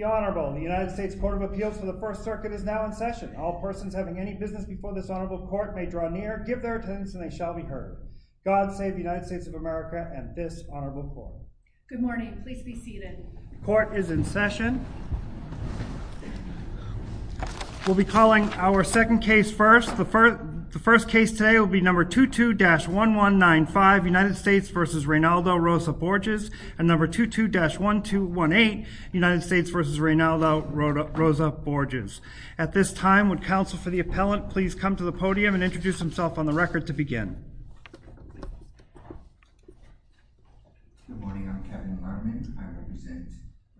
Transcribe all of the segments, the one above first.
The Honorable, the United States Court of Appeals for the First Circuit is now in session. All persons having any business before this Honorable Court may draw near, give their attendance and they shall be heard. God save the United States of America and this Honorable Court. Good morning. Please be seated. The Court is in session. We'll be calling our second case first. The first case today will be number 22-1195 United States v. Reynaldo Rosa-Borges and number 22-1218 United States v. Reynaldo Rosa-Borges. At this time, would counsel for the appellant please come to the podium and introduce himself on the record to begin. Good morning. I'm Kevin Varman. I represent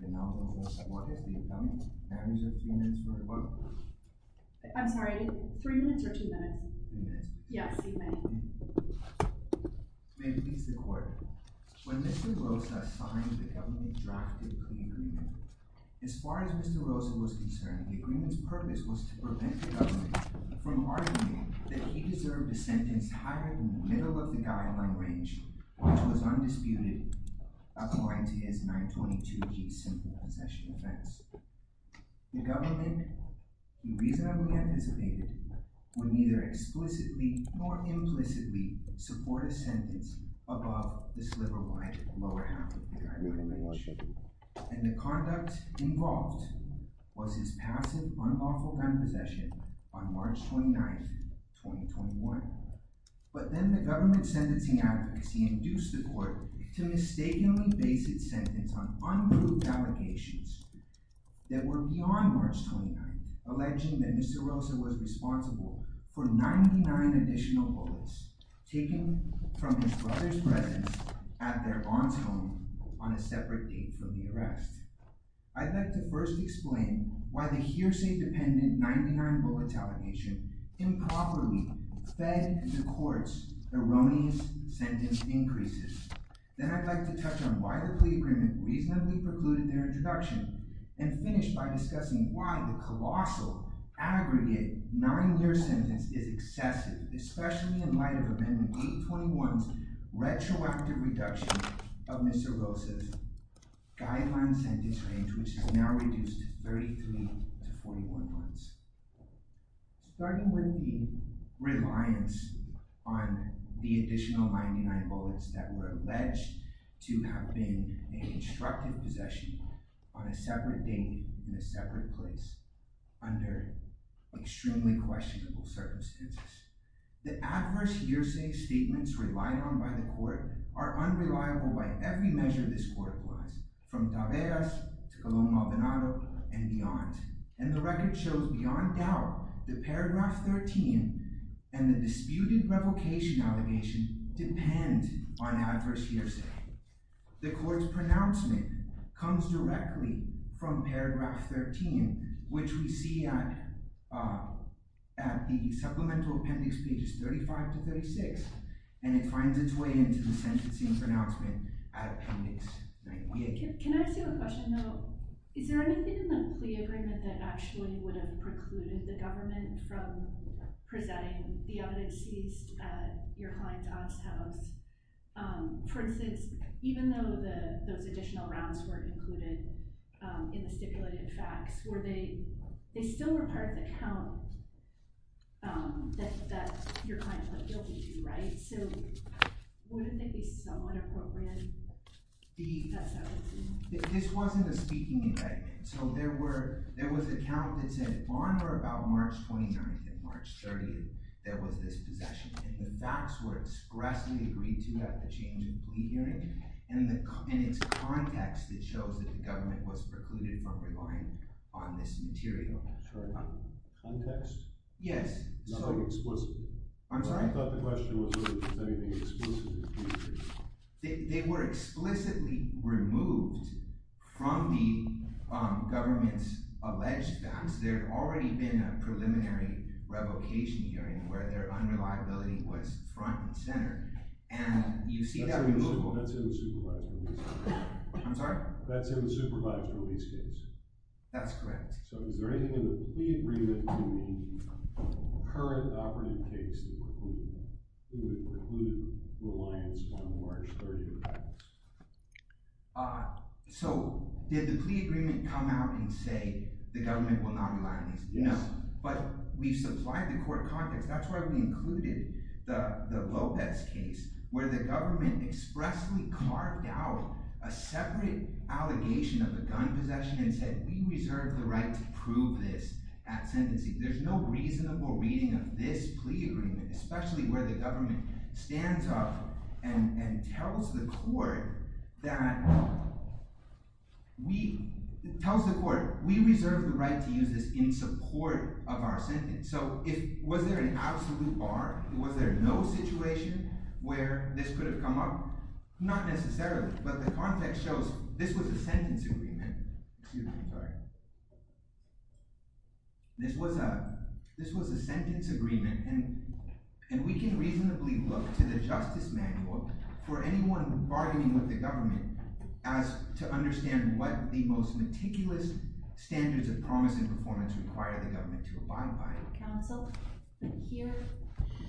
Reynaldo Rosa-Borges, the accountant. May I present the evidence for the court? I'm sorry. Three minutes or two minutes? Two minutes. Yes, you may. May it please the Court. When Mr. Rosa signed the government-drafted pre-agreement, as far as Mr. Rosa was concerned, the agreement's purpose was to prevent the government from arguing that he deserved a massive, unlawful grand possession on March 29, 2021, but then the government's sentencing advocacy induced the court to mistakenly base its sentence on unproved allegations that were beyond March 29, alleging that Mr. Rosa was responsible for 99 additional bullets taken from his brother's presence at their aunt's home on a separate date from the arrest. I'd like to first explain why the hearsay-dependent 99-bullet allegation improperly fed the court's erroneous sentence increases. Then I'd like to touch on why the pre-agreement reasonably precluded their introduction, and finish by discussing why the colossal, aggregate 9-year sentence is excessive, especially in light of Amendment 821's retroactive reduction of Mr. Rosa's guideline sentences. Starting with the reliance on the additional 99 bullets that were alleged to have been a constructive possession on a separate date, in a separate place, under extremely questionable circumstances. The adverse hearsay statements relied on by the court are unreliable by every measure this court was, from Taveras to Colón-Maldonado and beyond, and the record shows beyond doubt that paragraph 13 and the disputed revocation allegation depend on adverse hearsay. The court's pronouncement comes directly from paragraph 13, which we see at the supplemental appendix pages 35 to 36, and it finds its way into the sentencing pronouncement appendix 98. Can I ask you a question though? Is there anything in the plea agreement that actually would have precluded the government from presenting the evidence seized at your client Oz's house? For instance, even though those additional rounds were included in the stipulated facts, they still were part of the count that your client was guilty to, right? So wouldn't they be somewhat appropriate? This wasn't a speaking indictment, so there was a count that said on or about March 29th and March 30th there was this possession, and the facts were expressly agreed to at the change of plea hearing, and it's context that shows that the government was precluded from relying on this material. Sorry, context? Yes. Not like explicitly. I'm sorry? I thought the question was if there was anything explicitly. They were explicitly removed from the government's alleged facts. There had already been a preliminary revocation hearing where their unreliability was front and center, and you see that removal. That's in the supervised release case. I'm sorry? That's in the supervised release case. That's correct. So is there anything in the plea agreement to the current operative case that would preclude reliance on the March 30th facts? So did the plea agreement come out and say the government will not rely on these? Yes. But we've supplied the court context. That's why we included the Lopez case where the government expressly carved out a separate allegation of the gun possession and said we reserve the right to prove this at sentencing. There's no reasonable reading of this plea agreement, especially where the government stands up and tells the court that we reserve the right to use this in support of our sentence. So was there an absolute bar? Was there no situation where this could have come up? Not necessarily, but the context shows this was a sentence agreement, and we can reasonably look to the justice manual for anyone bargaining with the government to understand what the most meticulous standards of promise and performance require the government to abide by. Here,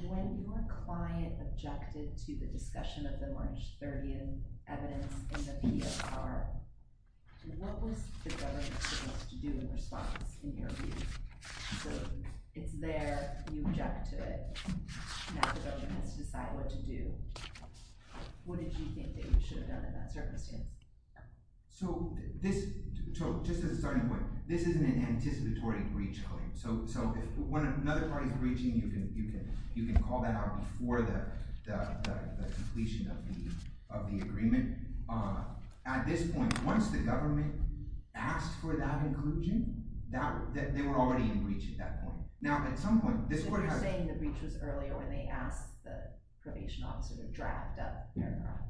when your client objected to the discussion of the March 30th evidence in the PRR, what was the government supposed to do in response in your view? So it's there, you object to it, and now the government has to decide what to do. What did you think that you should have done in that circumstance? So just as a starting point, this isn't an anticipatory breach claim. So if another party is breaching, you can call that out before the completion of the agreement. At this point, once the government asked for that inclusion, they were already in breach at that point. Now at some point, this court has… So you're saying the breach was earlier when they asked the probation officer to draft a paragraph?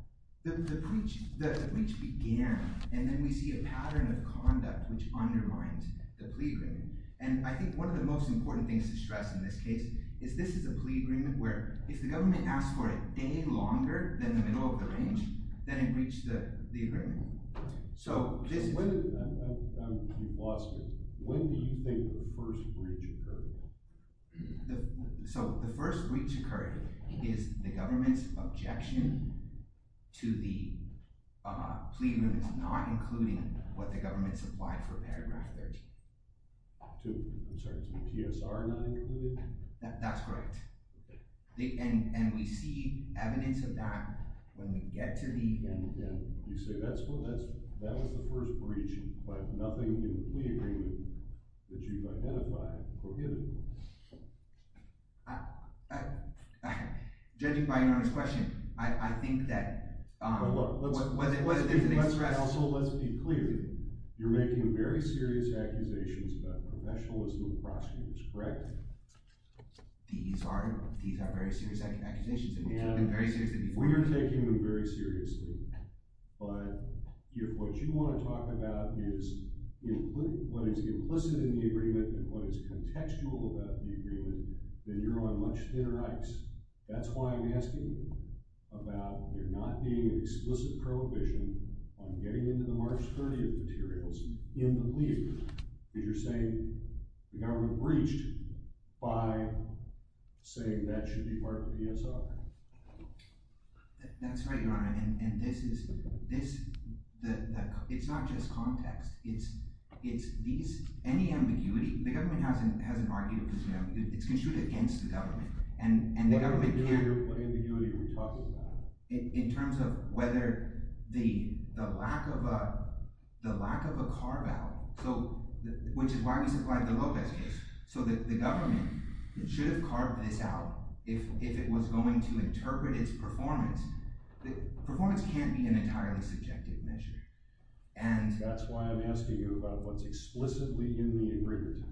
The breach began, and then we see a pattern of conduct which undermines the plea agreement. And I think one of the most important things to stress in this case is this is a plea agreement where if the government asked for it a day longer than the middle of the range, then it breached the agreement. So this… I'm lost here. When do you think the first breach occurred? So the first breach occurred is the government's objection to the plea agreement not including what the government supplied for paragraph 13. I'm sorry, to the PSR not included? That's correct. And we see evidence of that when we get to the… And you say that was the first breach, but nothing in the plea agreement that you've identified prohibited it. Judging by your honest question, I think that… Let's be clear. You're making very serious accusations about professionalism of prosecutors, correct? These are very serious accusations. And we're taking them very seriously. We are taking them very seriously. But if what you want to talk about is what is implicit in the agreement and what is contextual about the agreement, then you're on much thinner ice. That's why I'm asking about there not being an explicit prohibition on getting into the March 30th materials in the plea agreement. Because you're saying the government breached by saying that should be part of the PSR. That's right, Your Honor. And this is… It's not just context. It's these… Any ambiguity… The government hasn't argued. It's construed against the government. What ambiguity are you talking about? In terms of whether the lack of a carve-out, which is why we supplied the Lopez case, so that the government should have carved this out if it was going to interpret its performance. Performance can't be an entirely subjective measure. That's why I'm asking you about what's explicitly in the agreement.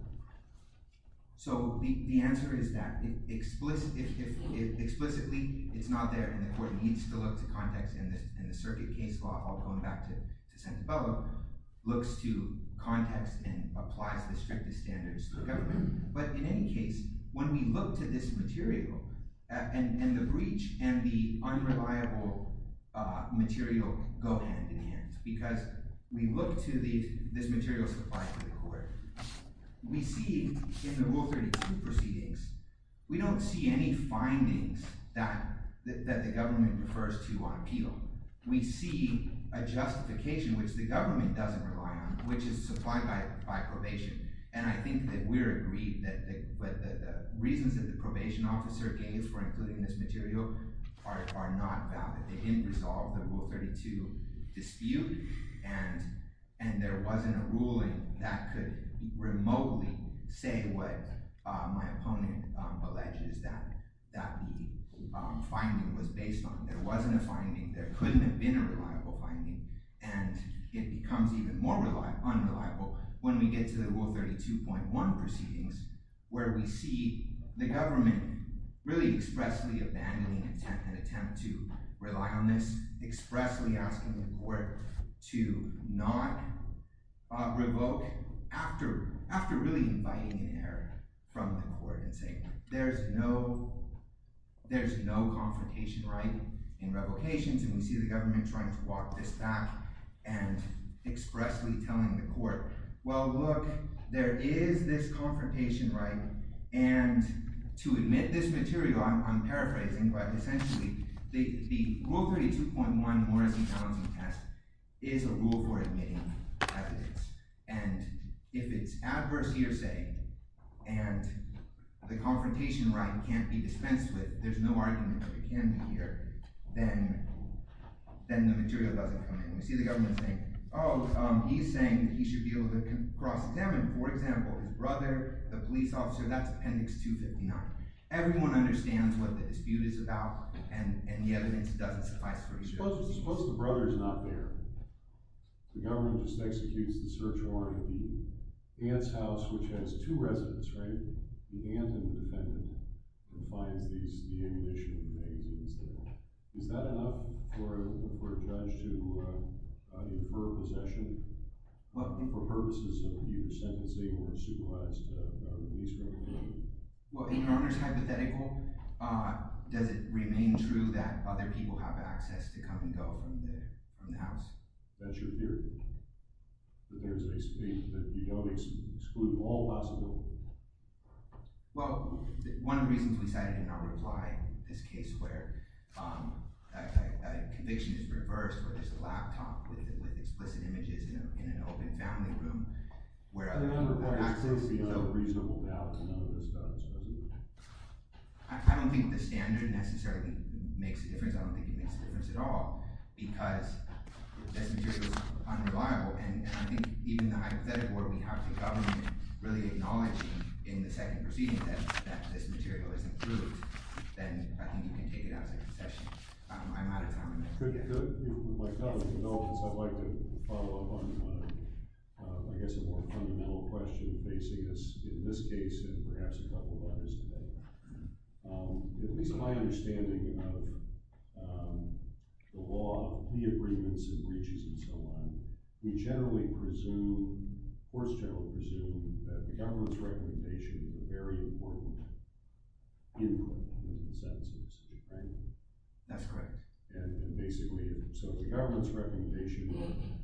So the answer is that explicitly it's not there, and the court needs to look to context. And the circuit case law, I'll go back to Santabella, looks to context and applies the strictest standards to the government. But in any case, when we look to this material, and the breach and the unreliable material go hand-in-hand, because we look to this material supplied to the court, we see in the Rule 32 proceedings, we don't see any findings that the government refers to on appeal. We see a justification, which the government doesn't rely on, which is supplied by probation. And I think that we're agreed that the reasons that the probation officer gave for including this material are not valid. They didn't resolve the Rule 32 dispute, and there wasn't a ruling that could remotely say what my opponent alleges that the finding was based on. There wasn't a finding, there couldn't have been a reliable finding, and it becomes even more unreliable when we get to the Rule 32.1 proceedings, where we see the government really expressly abandoning an attempt to rely on this, expressly asking the court to not revoke after really inviting an error from the court and saying, there's no confrontation right in revocations. And we see the government trying to walk this back and expressly telling the court, well I'm paraphrasing, but essentially the Rule 32.1 Morrison-Townsend test is a rule for admitting evidence, and if it's adverse hearsay and the confrontation right can't be dispensed with, there's no argument that it can be here, then the material doesn't come in. We see the government saying, oh, he's saying that he should be able to cross-examine, for example, his brother, the police officer, that's Appendix 259. Everyone understands what the dispute is about, and the evidence doesn't suffice for a judge. Suppose the brother's not there. The government just executes the search warrant at the aunt's house, which has two residents, right? The aunt and the defendant who finds the ammunition and magazines there. Is that enough for a judge to incur possession for purposes of either sentencing or supervised Well, even under hypothetical, does it remain true that other people have access to come and go from the house? That's your theory? That there's a state that you don't exclude all possible? Well, one of the reasons we cited in our reply this case where a conviction is reversed where there's a laptop with explicit images in an open family room where other people have access, we have a reasonable doubt that none of this does. I don't think the standard necessarily makes a difference. I don't think it makes a difference at all. Because if this material is unreliable, and I think even the hypothetical where we have the government really acknowledging in the second proceeding that this material is improved, then I think you can take it out as a concession. I'm out of time on that. I'd like to follow up on, I guess, a more fundamental question facing us in this case and perhaps a couple of others. At least my understanding of the law, the agreements and breaches and so on, we generally presume, courts generally presume, that the government's recommendation is a very important input in the sentences. Right? That's correct. And basically, so the government's recommendation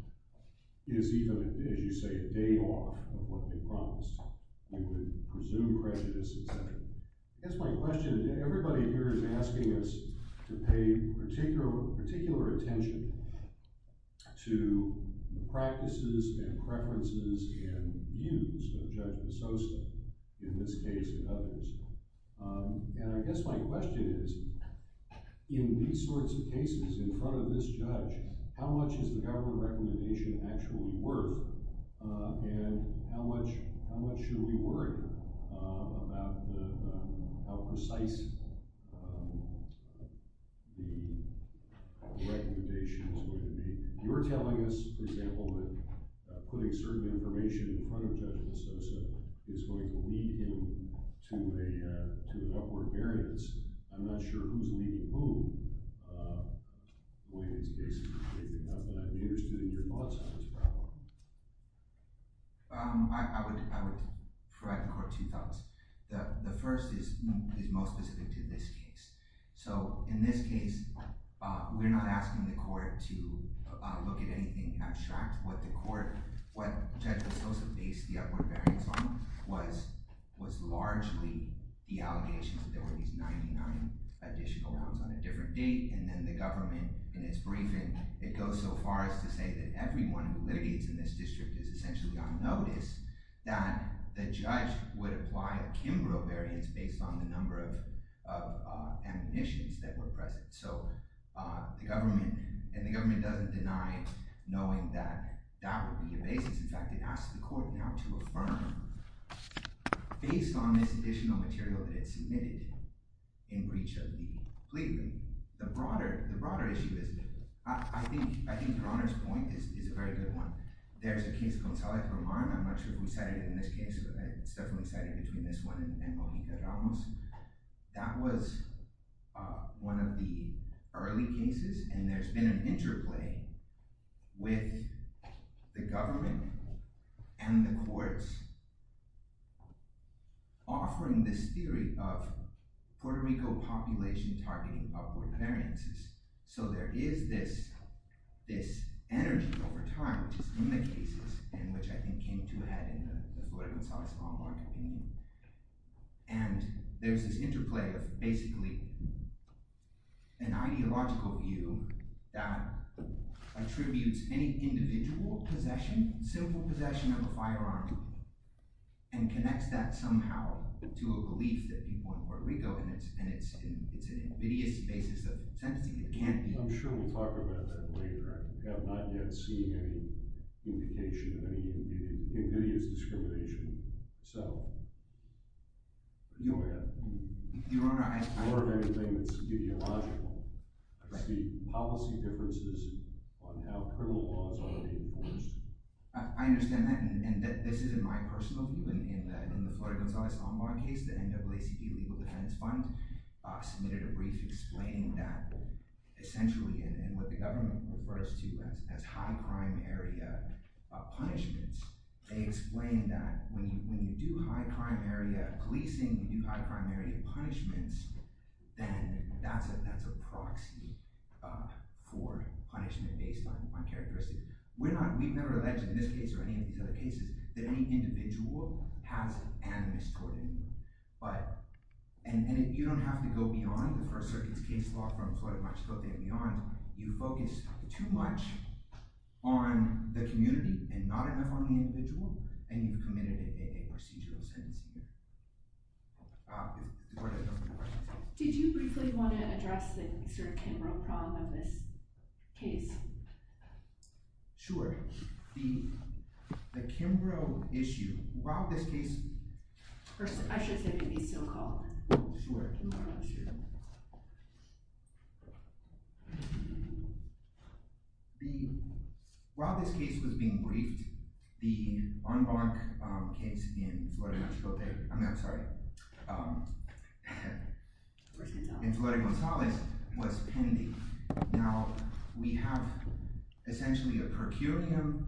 is even, as you say, a day off of what they promised. We would presume prejudice, et cetera. I guess my question, everybody here is asking us to pay particular attention to the practices and preferences and views of Judge DeSoto in this case and others. And I guess my question is, in these sorts of cases, in front of this judge, how much is the government recommendation actually worth? And how much should we worry about how precise the recommendation is going to be? You're telling us, for example, that putting certain information in front of Judge DeSoto is going to lead him to an upward variance. I'm not sure who's leading whom when it's basically based enough. And I'm interested in your thoughts on this problem. I would provide the court two thoughts. The first is most specific to this case. So in this case, we're not asking the court to look at anything abstract. What Judge DeSoto based the upward variance on was largely the allegations that there were these 99 additional rounds on a different date. And then the government, in its briefing, it goes so far as to say that everyone who litigates in this district is essentially on notice, that the judge would apply a Kimbrough variance based on the number of admonitions that were present. And the government doesn't deny knowing that that would be the basis. In fact, it asks the court now to affirm based on this additional material that it submitted in breach of the plea agreement. The broader issue is, I think your Honor's point is a very good one. There's a case of Gonzalez-Berman. I'm not sure who cited it in this case. It's definitely cited between this one and Bojita Ramos. That was one of the early cases, and there's been an interplay with the government and the courts offering this theory of Puerto Rico population targeting upward variances. So there is this energy over time, which is in the cases, and which I think came to a head in the Florida Gonzalez-Berman opinion. And there's this interplay of basically an ideological view that attributes any individual possession, simple possession of a firearm, and connects that somehow to a belief that people in Puerto Rico, and it's an invidious basis of sentencing. It can't be. I'm sure we'll talk about that later. I have not yet seen any indication of any invidious discrimination. So... Your Honor, I... Your Honor, I think it's ideological. I see policy differences on how criminal laws are being enforced. I understand that, and this isn't my personal view. In the Florida Gonzalez-Ombar case, the NAACP Legal Defense Fund submitted a brief explaining that essentially, and what the government refers to as high crime area punishments, they explain that when you do high crime area policing, when you do high crime area punishments, then that's a proxy for punishment based on characteristics. We've never alleged in this case or any of these other cases that any individual has animus toward anyone. But... And you don't have to go beyond the First Circuit's case law from the Florida March You focus too much on the community and not enough on the individual, and you've committed a procedural sentencing. Did you briefly want to address the sort of Kimbrough problem of this case? Sure. The Kimbrough issue. Rob, this case... I should say maybe so-called. Sure. While this case was being briefed, the Ombar case in Florida, I'm sorry, in Florida Gonzalez was pending. Now, we have essentially a per curiam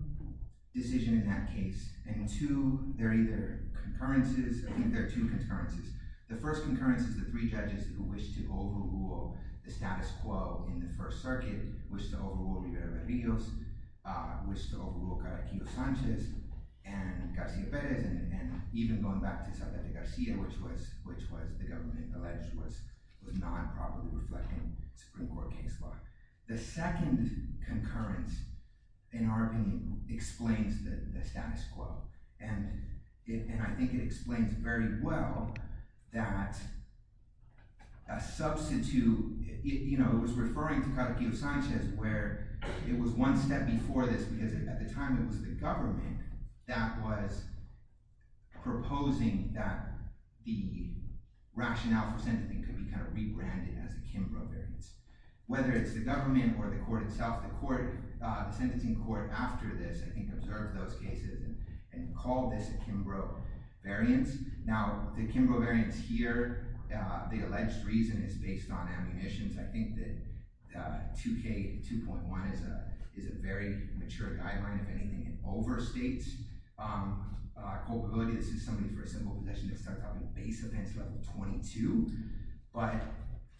decision in that case, and two, they're either concurrences, I think they're two concurrences. The first concurrence is the three judges who wish to overrule the status quo in the First Circuit, who wish to overrule Rivera-Verrillos, who wish to overrule Caraquillo-Sanchez, and Garcia-Perez, and even going back to Zaldivar-Garcia, which the government alleged was not properly reflecting Supreme Court case law. The second concurrence, in our opinion, explains the status quo, and I think it explains very well that a substitute... It was referring to Caraquillo-Sanchez, where it was one step before this, because at the time it was the government that was proposing that the rationale for sentencing could be kind of rebranded as a Kimbrough variance. Whether it's the government or the court itself, the sentencing court after this, I think, observed those cases and called this a Kimbrough variance. Now, the Kimbrough variance here, the alleged reason is based on ammunitions. I think that 2K2.1 is a very mature guideline, if anything, and overstates culpability. This is somebody for a simple possession to accept on base offense level 22. But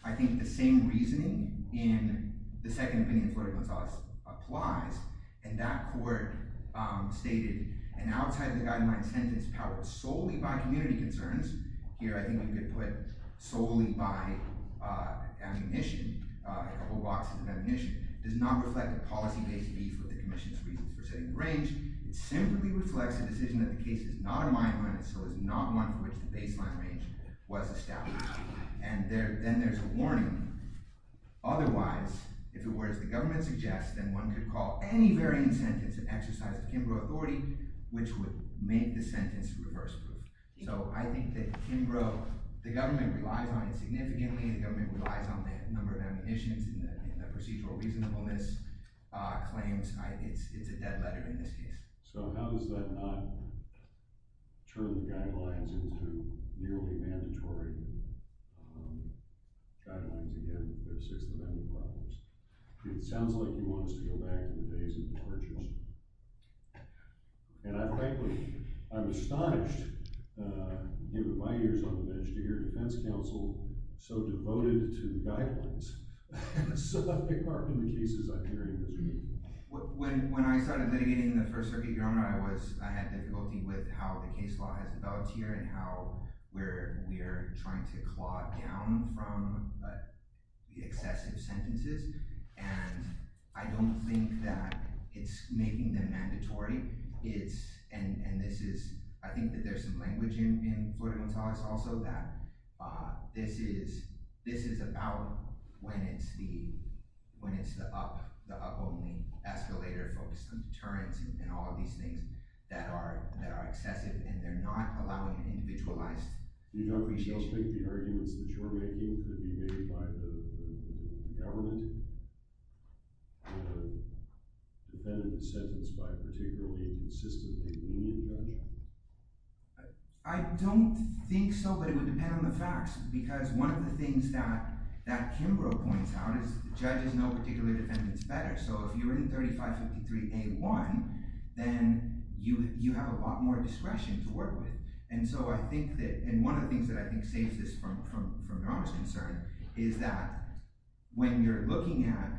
I think the same reasoning in the second opinion of Florey-Montaz applies, and that Here, I think you could put solely by ammunition, a couple boxes of ammunition. It does not reflect a policy-based beef with the commission's reasons for setting the range. It simply reflects a decision that the case is not a mine run, and so is not one for which the baseline range was established. And then there's a warning. Otherwise, if it were as the government suggests, then one could call any variance sentence an exercise of Kimbrough authority, which would make the sentence reverse-proof. So I think that Kimbrough, the government relies on it significantly. The government relies on the number of ammunitions and the procedural reasonableness claims. It's a dead letter in this case. So how does that not turn the guidelines into nearly mandatory guidelines, again, if there's 6th Amendment problems? It sounds like you want us to go back to the days of the marches. And I frankly, I'm astonished, given my years on the bench, to hear a defense counsel so devoted to the guidelines, so left-big-heartened the cases I'm hearing this week. When I started litigating in the First Circuit, Your Honor, I had difficulty with how the case law has developed here and how we're trying to claw down from the excessive sentences. And I don't think that it's making them mandatory. It's – and this is – I think that there's some language in Florida Guantanamo, also, that this is about when it's the up, the up-only escalator, focused on deterrence and all of these things that are excessive, and they're not allowing individualized… You don't, Michelle, think the arguments that you're making could be made by the government when a defendant is sentenced by a particularly consistently lenient judge? I don't think so, but it would depend on the facts, because one of the things that Kimbrough points out is judges know particular defendants better. So if you're in 3553A1, then you have a lot more discretion to work with. And so I think that – and one of the things that I think saves this from Your Honor's concern is that when you're looking at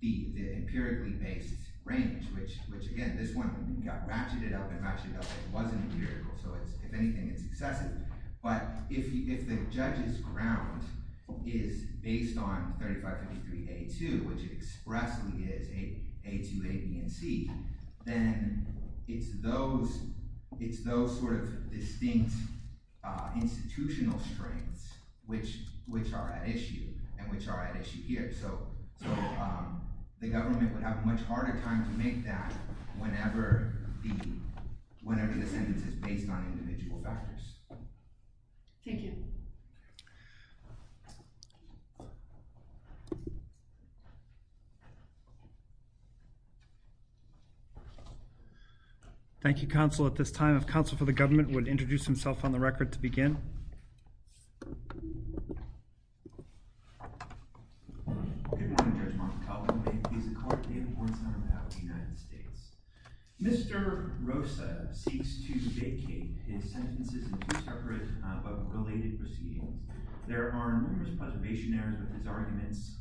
the empirically based range, which, again, this one got ratcheted up and ratcheted up, it wasn't empirical, so it's – if anything, it's excessive. But if the judge's ground is based on 3553A2, which expressly is A2, A, B, and C, then it's those sort of distinct institutional strengths which are at issue and which are at issue here. So the government would have a much harder time to make that whenever the sentence is based on individual factors. Thank you. Thank you, Counsel. At this time, if Counsel for the Government would introduce himself on the record to begin. Good morning, Judge Montecalvo. May it please the Court that I have a warrant signed on behalf of the United States. Mr. Rosa seeks to vacate his sentences in two separate but related proceedings. There are numerous preservation errors with his arguments,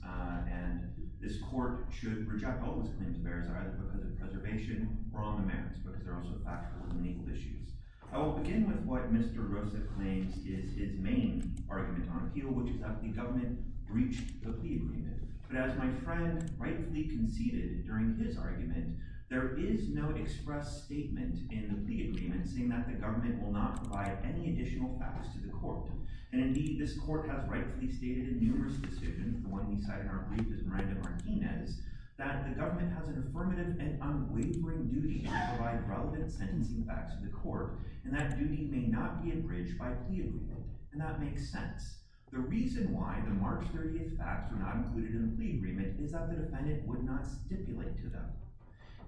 and this Court should reject all his claims of errors either because of preservation or on the merits, but because they're also factual and legal issues. I will begin with what Mr. Rosa claims is his main argument on appeal, which is that the government breached the plea agreement. But as my friend rightfully conceded during his argument, there is no express statement in the plea agreement saying that the government will not provide any additional facts to the Court. And indeed, this Court has rightfully stated in numerous decisions, the one we cite in our brief is Miranda Martinez, that the government has an affirmative and unwavering duty to provide relevant sentencing facts to the Court, and that duty may not be abridged by plea agreement. And that makes sense. The reason why the March 30th facts were not included in the plea agreement is that the defendant would not stipulate to them.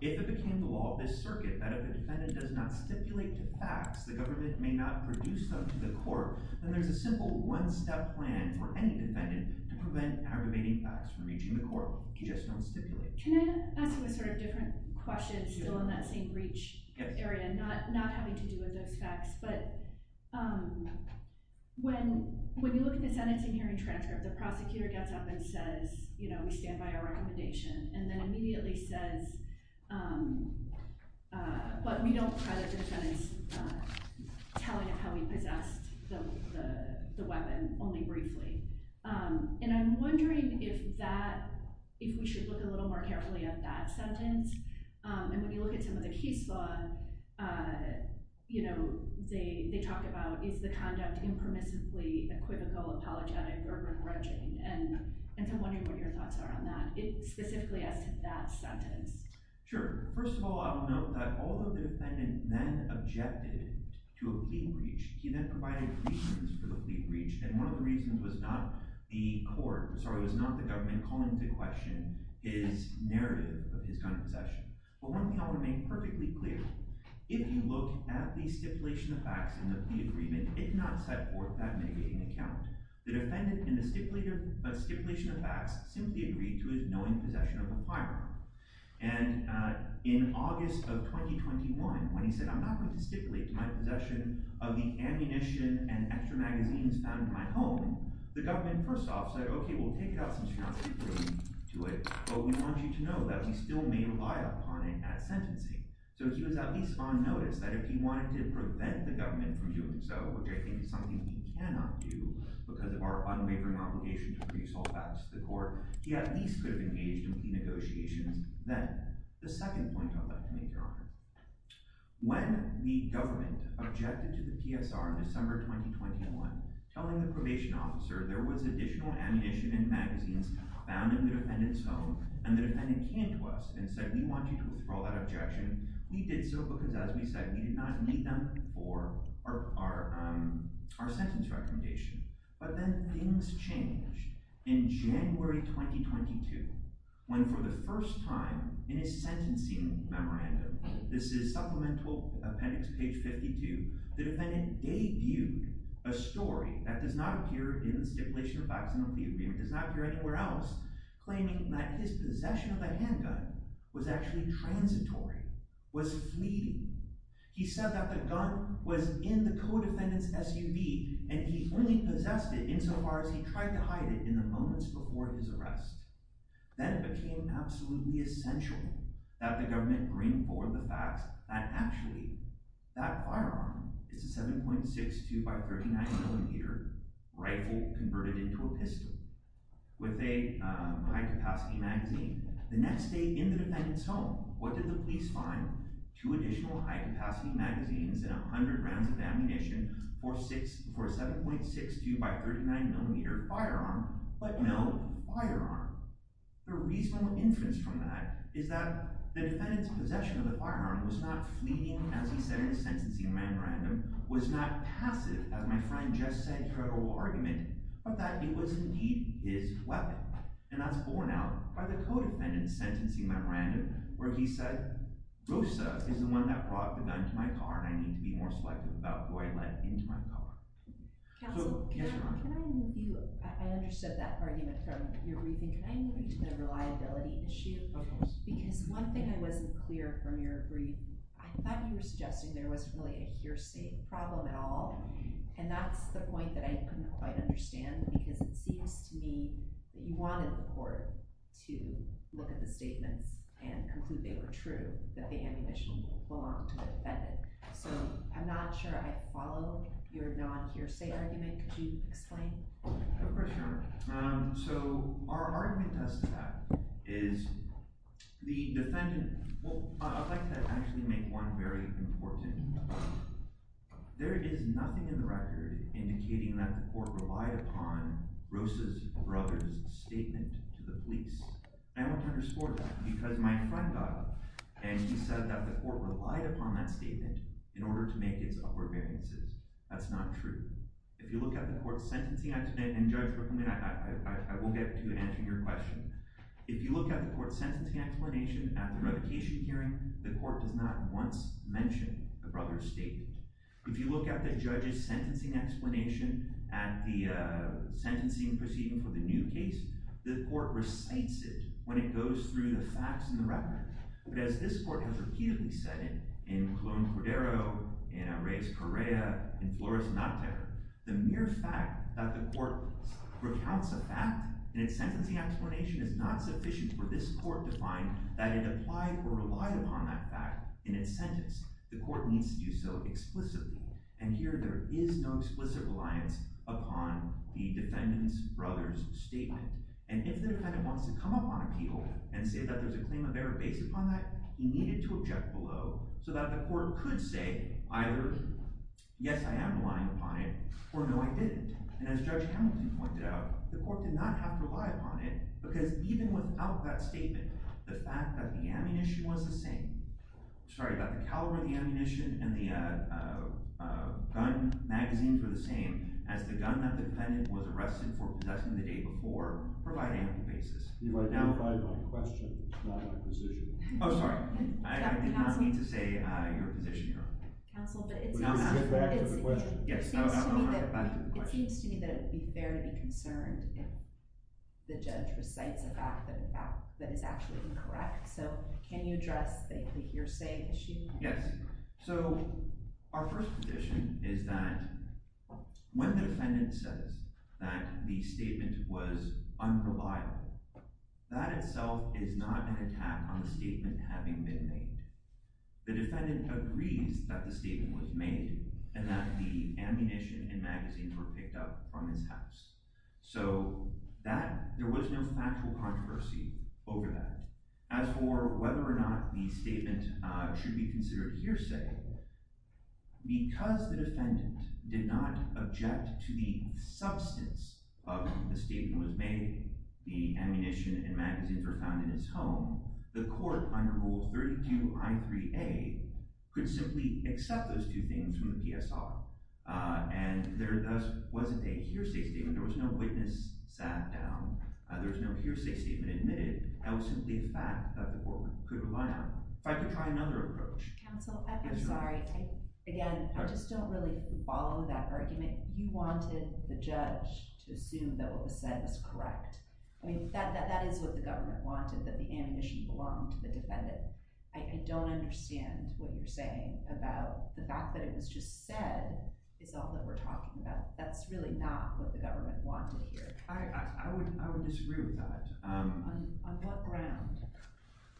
If it became the law of this circuit that if a defendant does not stipulate to facts, the government may not produce them to the Court, then there's a simple one-step plan for any defendant to prevent aggravating facts from reaching the Court. You just don't stipulate. Can I ask you a sort of different question, still in that same breach area, not having to do with those facts, but when you look at the sentencing hearing transcript, the prosecutor gets up and says, you know, we stand by our recommendation, and then immediately says, but we don't credit the defendant's telling of how he possessed the weapon, only briefly. And I'm wondering if that, if we should look a little more carefully at that sentence. And when you look at some of the case law, you know, they talk about, is the conduct impermissibly equivocal, apologetic, or begrudging? And I'm wondering what your thoughts are on that. Specifically as to that sentence. Sure. First of all, I will note that although the defendant then objected to a plea breach, he then provided reasons for the plea breach, and one of the reasons was not the Court, sorry, was not the government calling into question his narrative of his gun possession. But let me now remain perfectly clear. If you look at the stipulation of facts in the plea agreement, it did not set forth that negating account. The defendant in the stipulation of facts simply agreed to his knowing possession of a firearm. And in August of 2021, when he said, I'm not going to stipulate my possession of the ammunition and extra magazines found in my home, the government first off said, okay, we'll take it out since you're not stipulating to it, but we want you to know that we still may rely upon it at sentencing. So he was at least on notice that if he wanted to prevent the government from doing so, which I think is something we cannot do because of our unwavering obligation to produce all facts to the Court, he at least could have engaged in plea negotiations then. The second point I'd like to make, Your Honor, when the government objected to the PSR in December 2021, telling the probation officer there was additional ammunition and magazines found in the defendant's home and the defendant came to us and said, we want you to withdraw that objection, we did so because, as we said, we did not meet them for our sentence recommendation. But then things changed in January 2022, when for the first time in his sentencing memorandum, this is Supplemental Appendix, page 52, the defendant debuted a story that does not appear in the stipulation of facts, does not appear anywhere else, claiming that his possession of a handgun was actually transitory, was fleeting. He said that the gun was in the co-defendant's SUV and he only possessed it insofar as he tried to hide it in the moments before his arrest. Then it became absolutely essential that the government bring forward the facts that actually that firearm is a 7.62x39mm rifle converted into a pistol with a high-capacity magazine. The next day in the defendant's home, what did the police find? Two additional high-capacity magazines and 100 rounds of ammunition for a 7.62x39mm firearm. But no firearm. The reasonable inference from that is that the defendant's possession of the firearm was not fleeting, as he said in his sentencing memorandum, was not passive, as my friend just said in her oral argument, but that it was indeed his weapon. And that's borne out by the co-defendant's sentencing memorandum, where he said, Rosa is the one that brought the gun to my car and I need to be more selective about who I let into my car. Counsel, can I move you? I understood that argument from your briefing. Can I move you to the reliability issue? Because one thing I wasn't clear from your briefing, I thought you were suggesting there wasn't really a hearsay problem at all, and that's the point that I couldn't quite understand because it seems to me that you wanted the court to look at the statements and conclude they were true, that the ammunition belonged to the defendant. So I'm not sure I follow your non-hearsay argument. Could you explain? I have a question. So our argument to that is the defendant… Well, I'd like to actually make one very important point. There is nothing in the record indicating that the court relied upon Rosa's brother's statement to the police. And I want to underscore that because my friend got up and he said that the court relied upon that statement in order to make its upward variances. That's not true. If you look at the court's sentencing… And Judge Rickman, I won't get to answering your question. If you look at the court's sentencing explanation at the revocation hearing, the court does not once mention the brother's statement. If you look at the judge's sentencing explanation at the sentencing proceeding for the new case, the court recites it when it goes through the facts in the record. But as this court has repeatedly said in Colón Cordero, in Reyes Correa, in Flores Náutero, the mere fact that the court recounts a fact in its sentencing explanation is not sufficient for this court to find that it applied or relied upon that fact in its sentence. The court needs to do so explicitly. And here there is no explicit reliance upon the defendant's brother's statement. And if the defendant wants to come up on appeal and say that there's a claim of error based upon that, he needed to object below so that the court could say either yes, I am relying upon it, or no, I didn't. And as Judge Hamilton pointed out, the court did not have to rely upon it because even without that statement, the fact that the ammunition was the same – sorry, that the caliber of the ammunition and the gun magazines were the same as the gun that the defendant was arrested for possessing the day before provided ample basis. You identified my question, not my position. Oh, sorry. I did not mean to say your position, Your Honor. Counsel, but it seems to me that it would be fair to be concerned if the judge recites a fact that is actually incorrect. So can you address the hearsay issue? Yes. So our first position is that when the defendant says that the statement was unreliable, that itself is not an attack on the statement having been made. The defendant agrees that the statement was made and that the ammunition and magazines were picked up from his house. So there was no factual controversy over that. As for whether or not the statement should be considered hearsay, because the defendant did not object to the substance of the statement that was made, the ammunition and magazines were found in his home, the court, under Rule 32, Crime 3A, could simply accept those two things from the PSR. And there thus wasn't a hearsay statement. There was no witness sat down. There was no hearsay statement admitted. That was simply a fact that the court could rely on. If I could try another approach. Counsel, I'm sorry. Again, I just don't really follow that argument. You wanted the judge to assume that what was said was correct. I mean, that is what the government wanted, that the ammunition belonged to the defendant. I don't understand what you're saying about the fact that it was just said is all that we're talking about. That's really not what the government wanted here. I would disagree with that. On what ground?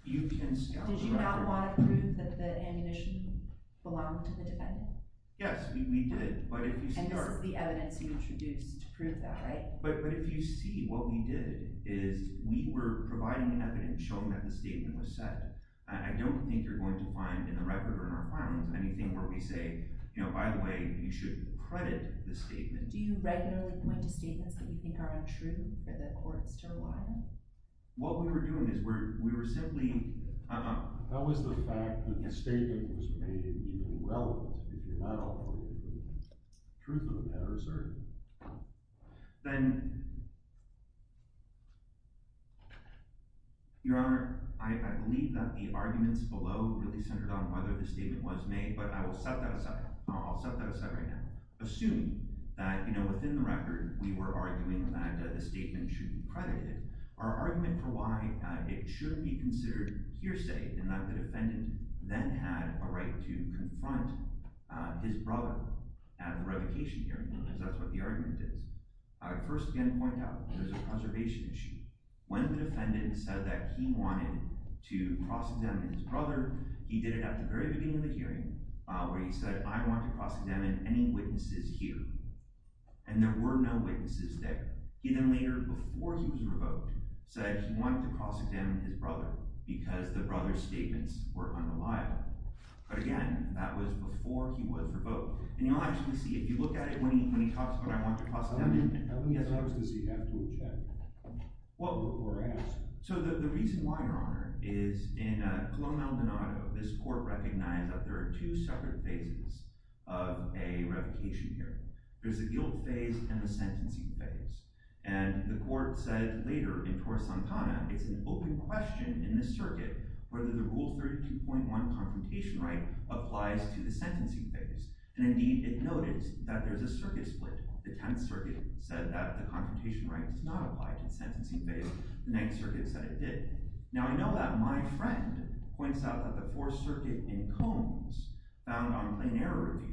Did you not want to prove that the ammunition belonged to the defendant? Yes, we did. And this is the evidence you introduced to prove that, right? But if you see, what we did is we were providing evidence showing that the statement was said. I don't think you're going to find in the record or in our files anything where we say, by the way, you should credit the statement. Do you regularly point to statements that you think are untrue for the courts to rely on? What we were doing is we were simply— How is the fact that the statement was made even relevant if you're not offering the truth of the matter, sir? Your Honor, I believe that the arguments below really centered on whether the statement was made, but I will set that aside. I'll set that aside right now. Assume that within the record we were arguing that the statement should be credited. Our argument for why it should be considered hearsay is that the defendant then had a right to confront his brother at the revocation hearing, because that's what the argument is. First, again, to point out, there's a conservation issue. When the defendant said that he wanted to cross-examine his brother, he did it at the very beginning of the hearing, where he said, I want to cross-examine any witnesses here. And there were no witnesses there. He then later, before he was revoked, said he wanted to cross-examine his brother because the brother's statements were unreliable. But again, that was before he was revoked. And you'll actually see, if you look at it, when he talks about, I want to cross-examine him— Let me, as I was going to say, have to object. Well, before I ask. So the reason why, Your Honor, is in Colombo-El Donato, this court recognized that there are two separate phases of a revocation hearing. There's the guilt phase and the sentencing phase. And the court said later, in Torre Santana, it's an open question in the circuit whether the Rule 32.1 confrontation right applies to the sentencing phase. And indeed, it noted that there's a circuit split. The Tenth Circuit said that the confrontation right does not apply to the sentencing phase. The Ninth Circuit said it did. Now, I know that my friend points out that the Fourth Circuit, in Combs, found on a plain error review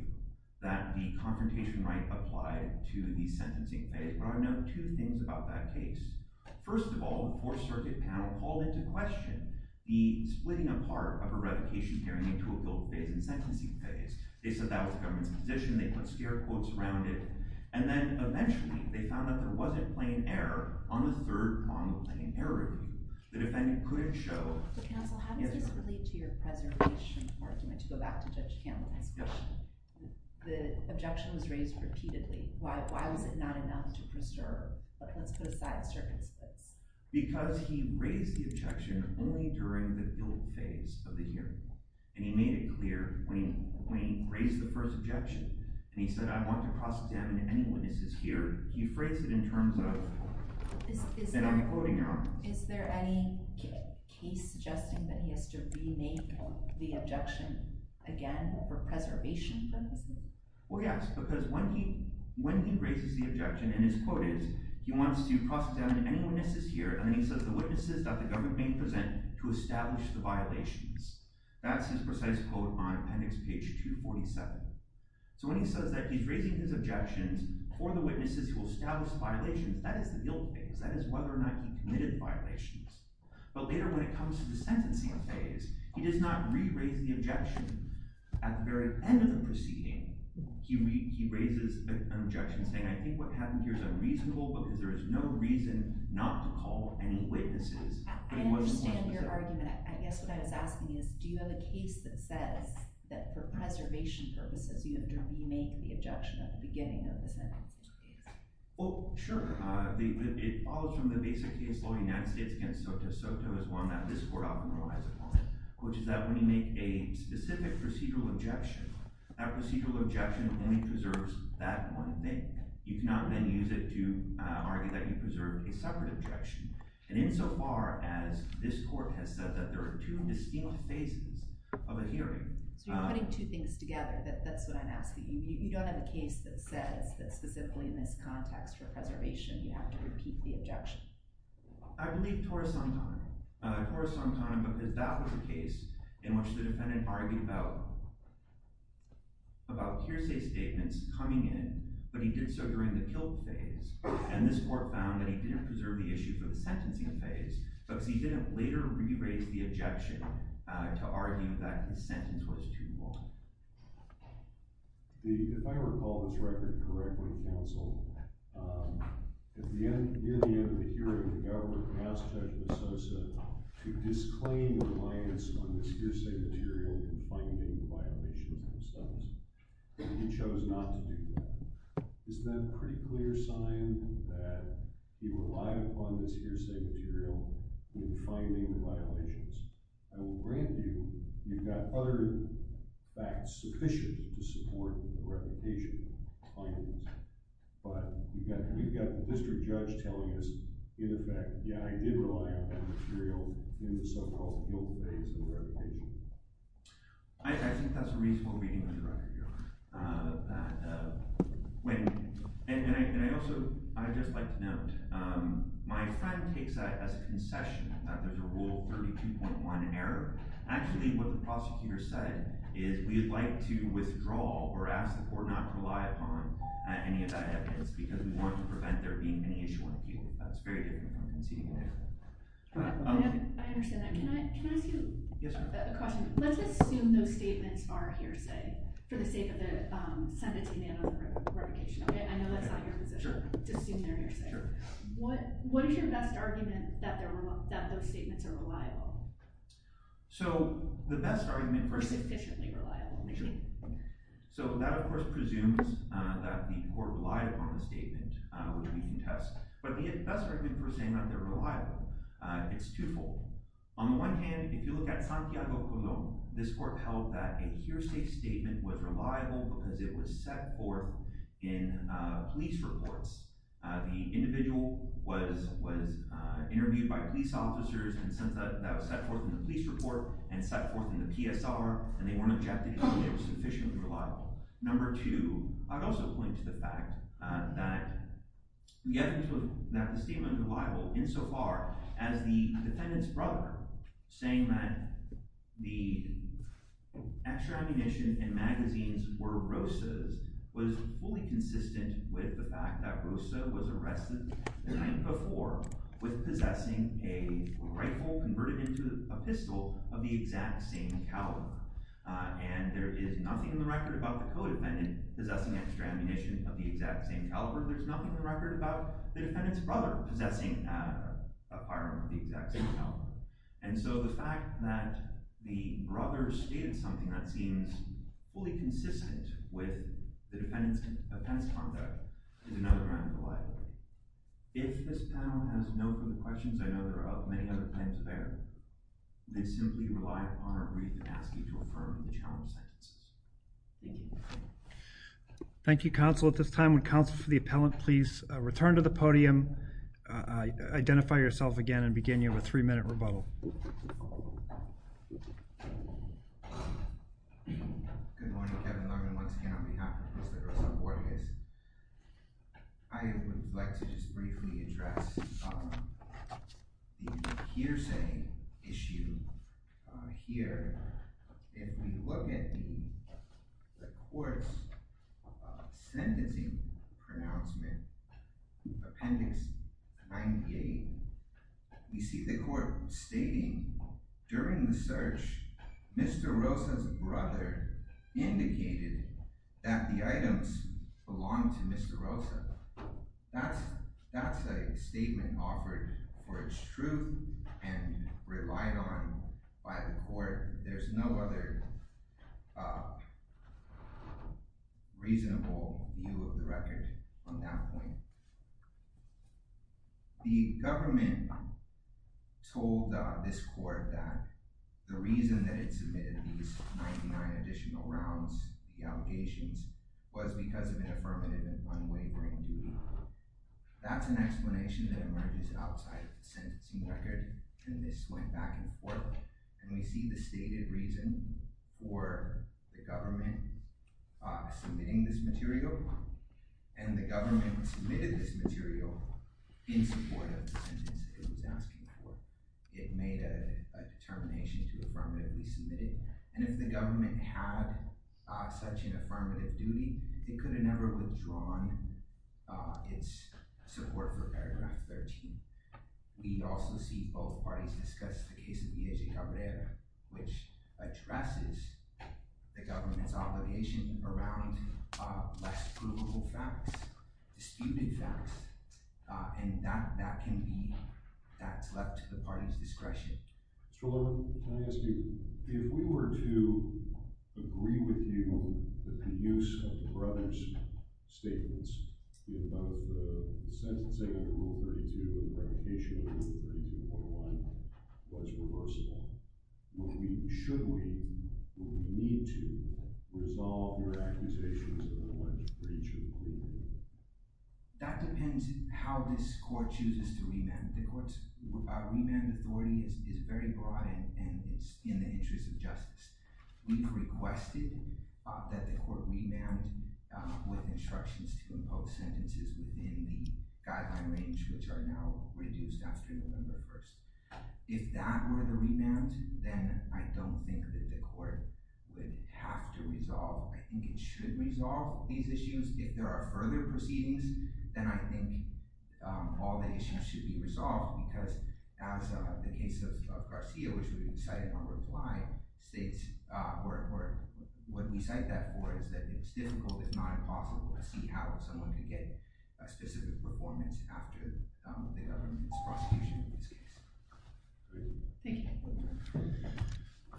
that the confrontation right applied to the sentencing phase. But I know two things about that case. First of all, the Fourth Circuit panel called into question the splitting apart of a revocation hearing into a guilt phase and sentencing phase. They said that was the government's position. They put stare quotes around it. And then, eventually, they found that there wasn't plain error on the third on the plain error review. The defendant couldn't show— Counsel, how does this relate to your preservation argument to go back to Judge Campbell's question? The objection was raised repeatedly. Why was it not enough to preserve? Let's put aside circuit splits. Because he raised the objection only during the guilt phase of the hearing. And he made it clear when he raised the first objection and he said, I want to cross-examine any witnesses here, he phrased it in terms of— And I'm quoting you on this. Is there any case suggesting that he has to rename the objection again for preservation purposes? Well, yes. Because when he raises the objection, and his quote is, he wants to cross-examine any witnesses here, and then he says, the witnesses that the government may present to establish the violations. That's his precise quote on appendix page 247. So when he says that he's raising his objections for the witnesses who established violations, that is the guilt phase. That is whether or not he committed violations. But later when it comes to the sentencing phase, he does not re-raise the objection at the very end of the proceeding. He raises an objection saying, I think what happened here is unreasonable because there is no reason not to call any witnesses. I understand your argument. I guess what I was asking is, do you have a case that says that for preservation purposes you have to remake the objection at the beginning of the sentencing phase? Well, sure. It follows from the basic case law of the United States against Soto. Soto is one that this court often relies upon, which is that when you make a specific procedural objection, that procedural objection only preserves that one thing. You cannot then use it to argue that you preserved a separate objection. And insofar as this court has said that there are two distinct phases of a hearing. So you're putting two things together. That's what I'm asking. You don't have a case that says, specifically in this context for preservation, you have to repeat the objection. I believe Torres on time. Torres on time because that was a case in which the defendant argued about hearsay statements coming in, but he did so during the guilt phase. And this court found that he didn't preserve the issue for the sentencing phase because he didn't later re-raise the objection to argue that the sentence was too long. If I recall this record correctly, counsel, at the end, near the end of the hearing, the government asked Judge Misosa to disclaim reliance on this hearsay material in finding the violation of his studies. And he chose not to do that. Isn't that a pretty clear sign that he relied upon this hearsay material in finding the violations? I will grant you, you've got other facts sufficient to support the reputation findings, but we've got the district judge telling us, in effect, yeah, I did rely on that material in the so-called guilt phase of the reputation. I think that's a reasonable reading of the record, Your Honor. And I'd also, I'd just like to note, my friend takes that as a concession that there's a Rule 32.1 error. Actually, what the prosecutor said is we'd like to withdraw or ask the court not to rely upon any of that evidence because we want to prevent there being any issue on appeal. That's very different from conceding an error. I understand that. Can I ask you a question? Let's assume those statements are hearsay for the sake of the sentence being made on the reputation. I know that's not your position to assume they're hearsay. What is your best argument that those statements are reliable? So the best argument for... Or sufficiently reliable, maybe. So that, of course, presumes that the court relied upon the statement, which we can test. But the best argument for saying that they're reliable, it's twofold. On the one hand, if you look at Santiago Colón, this court held that a hearsay statement was reliable because it was set forth in police reports. The individual was interviewed by police officers and since that was set forth in the police report and set forth in the PSR, and they weren't objecting to it, it was sufficiently reliable. Number two, I'd also point to the fact that the statement was reliable insofar as the defendant's brother saying that the extra ammunition and magazines were rosas was fully consistent with the fact that rosa was arrested the time before with possessing a rifle converted into a pistol of the exact same caliber. And there is nothing in the record about the codependent possessing extra ammunition of the exact same caliber. There's nothing in the record about the defendant's brother possessing a firearm of the exact same caliber. And so the fact that the brother stated something that seems fully consistent with the defendant's conduct is another kind of reliability. If this panel has no further questions, I know there are many other things there, they simply rely upon or agree to ask you to affirm the challenge sentences. Thank you. Thank you, counsel. At this time, would counsel for the appellant please return to the podium, identify yourself again, and begin your three-minute rebuttal. Good morning, Kevin Lerman once again on behalf of Mr. Rosa Borges. I would like to just briefly address the hearsay issue here. If we look at the court's sentencing pronouncement, Appendix 98, we see the court stating, during the search, Mr. Rosa's brother indicated that the items belonged to Mr. Rosa. That's a statement offered for its truth and relied on by the court. There's no other reasonable view of the record on that point. The government told this court that the reason that it submitted these 99 additional rounds, the allegations, was because of an affirmative and unwavering duty. That's an explanation that emerges outside of the sentencing record, and this went back and forth. We see the stated reason for the government submitting this material, and the government submitted this material in support of the sentence it was asking for. It made a determination to affirmatively submit it, and if the government had such an affirmative duty, it could have never withdrawn its support for Paragraph 13. We also see both parties discuss the case of Villegas Cabrera, which addresses the government's obligation around less provable facts, disputed facts, and that can be left to the parties' discretion. Mr. Levin, can I ask you, if we were to agree with you that the use of the brothers' statements in both the sentencing under Rule 32 and the revocation of Rule 32.1 was reversible, should we, or would we need to, resolve your accusations that I wanted to bring to the court? That depends how this court chooses to remand. The court's remand authority is very broad, and it's in the interest of justice. We've requested that the court remand with instructions to impose sentences within the guideline range, which are now reduced after November 1st. If that were the remand, then I don't think that the court would have to resolve. I think it should resolve these issues. If there are further proceedings, then I think all the issues should be resolved, because as the case of Garcia, which we cited on reply, states, or what we cite that for, is that it's difficult, if not impossible, to see how someone could get a specific performance after the government's prosecution in this case. Thank you.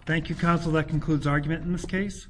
Thank you, counsel. That concludes argument in this case.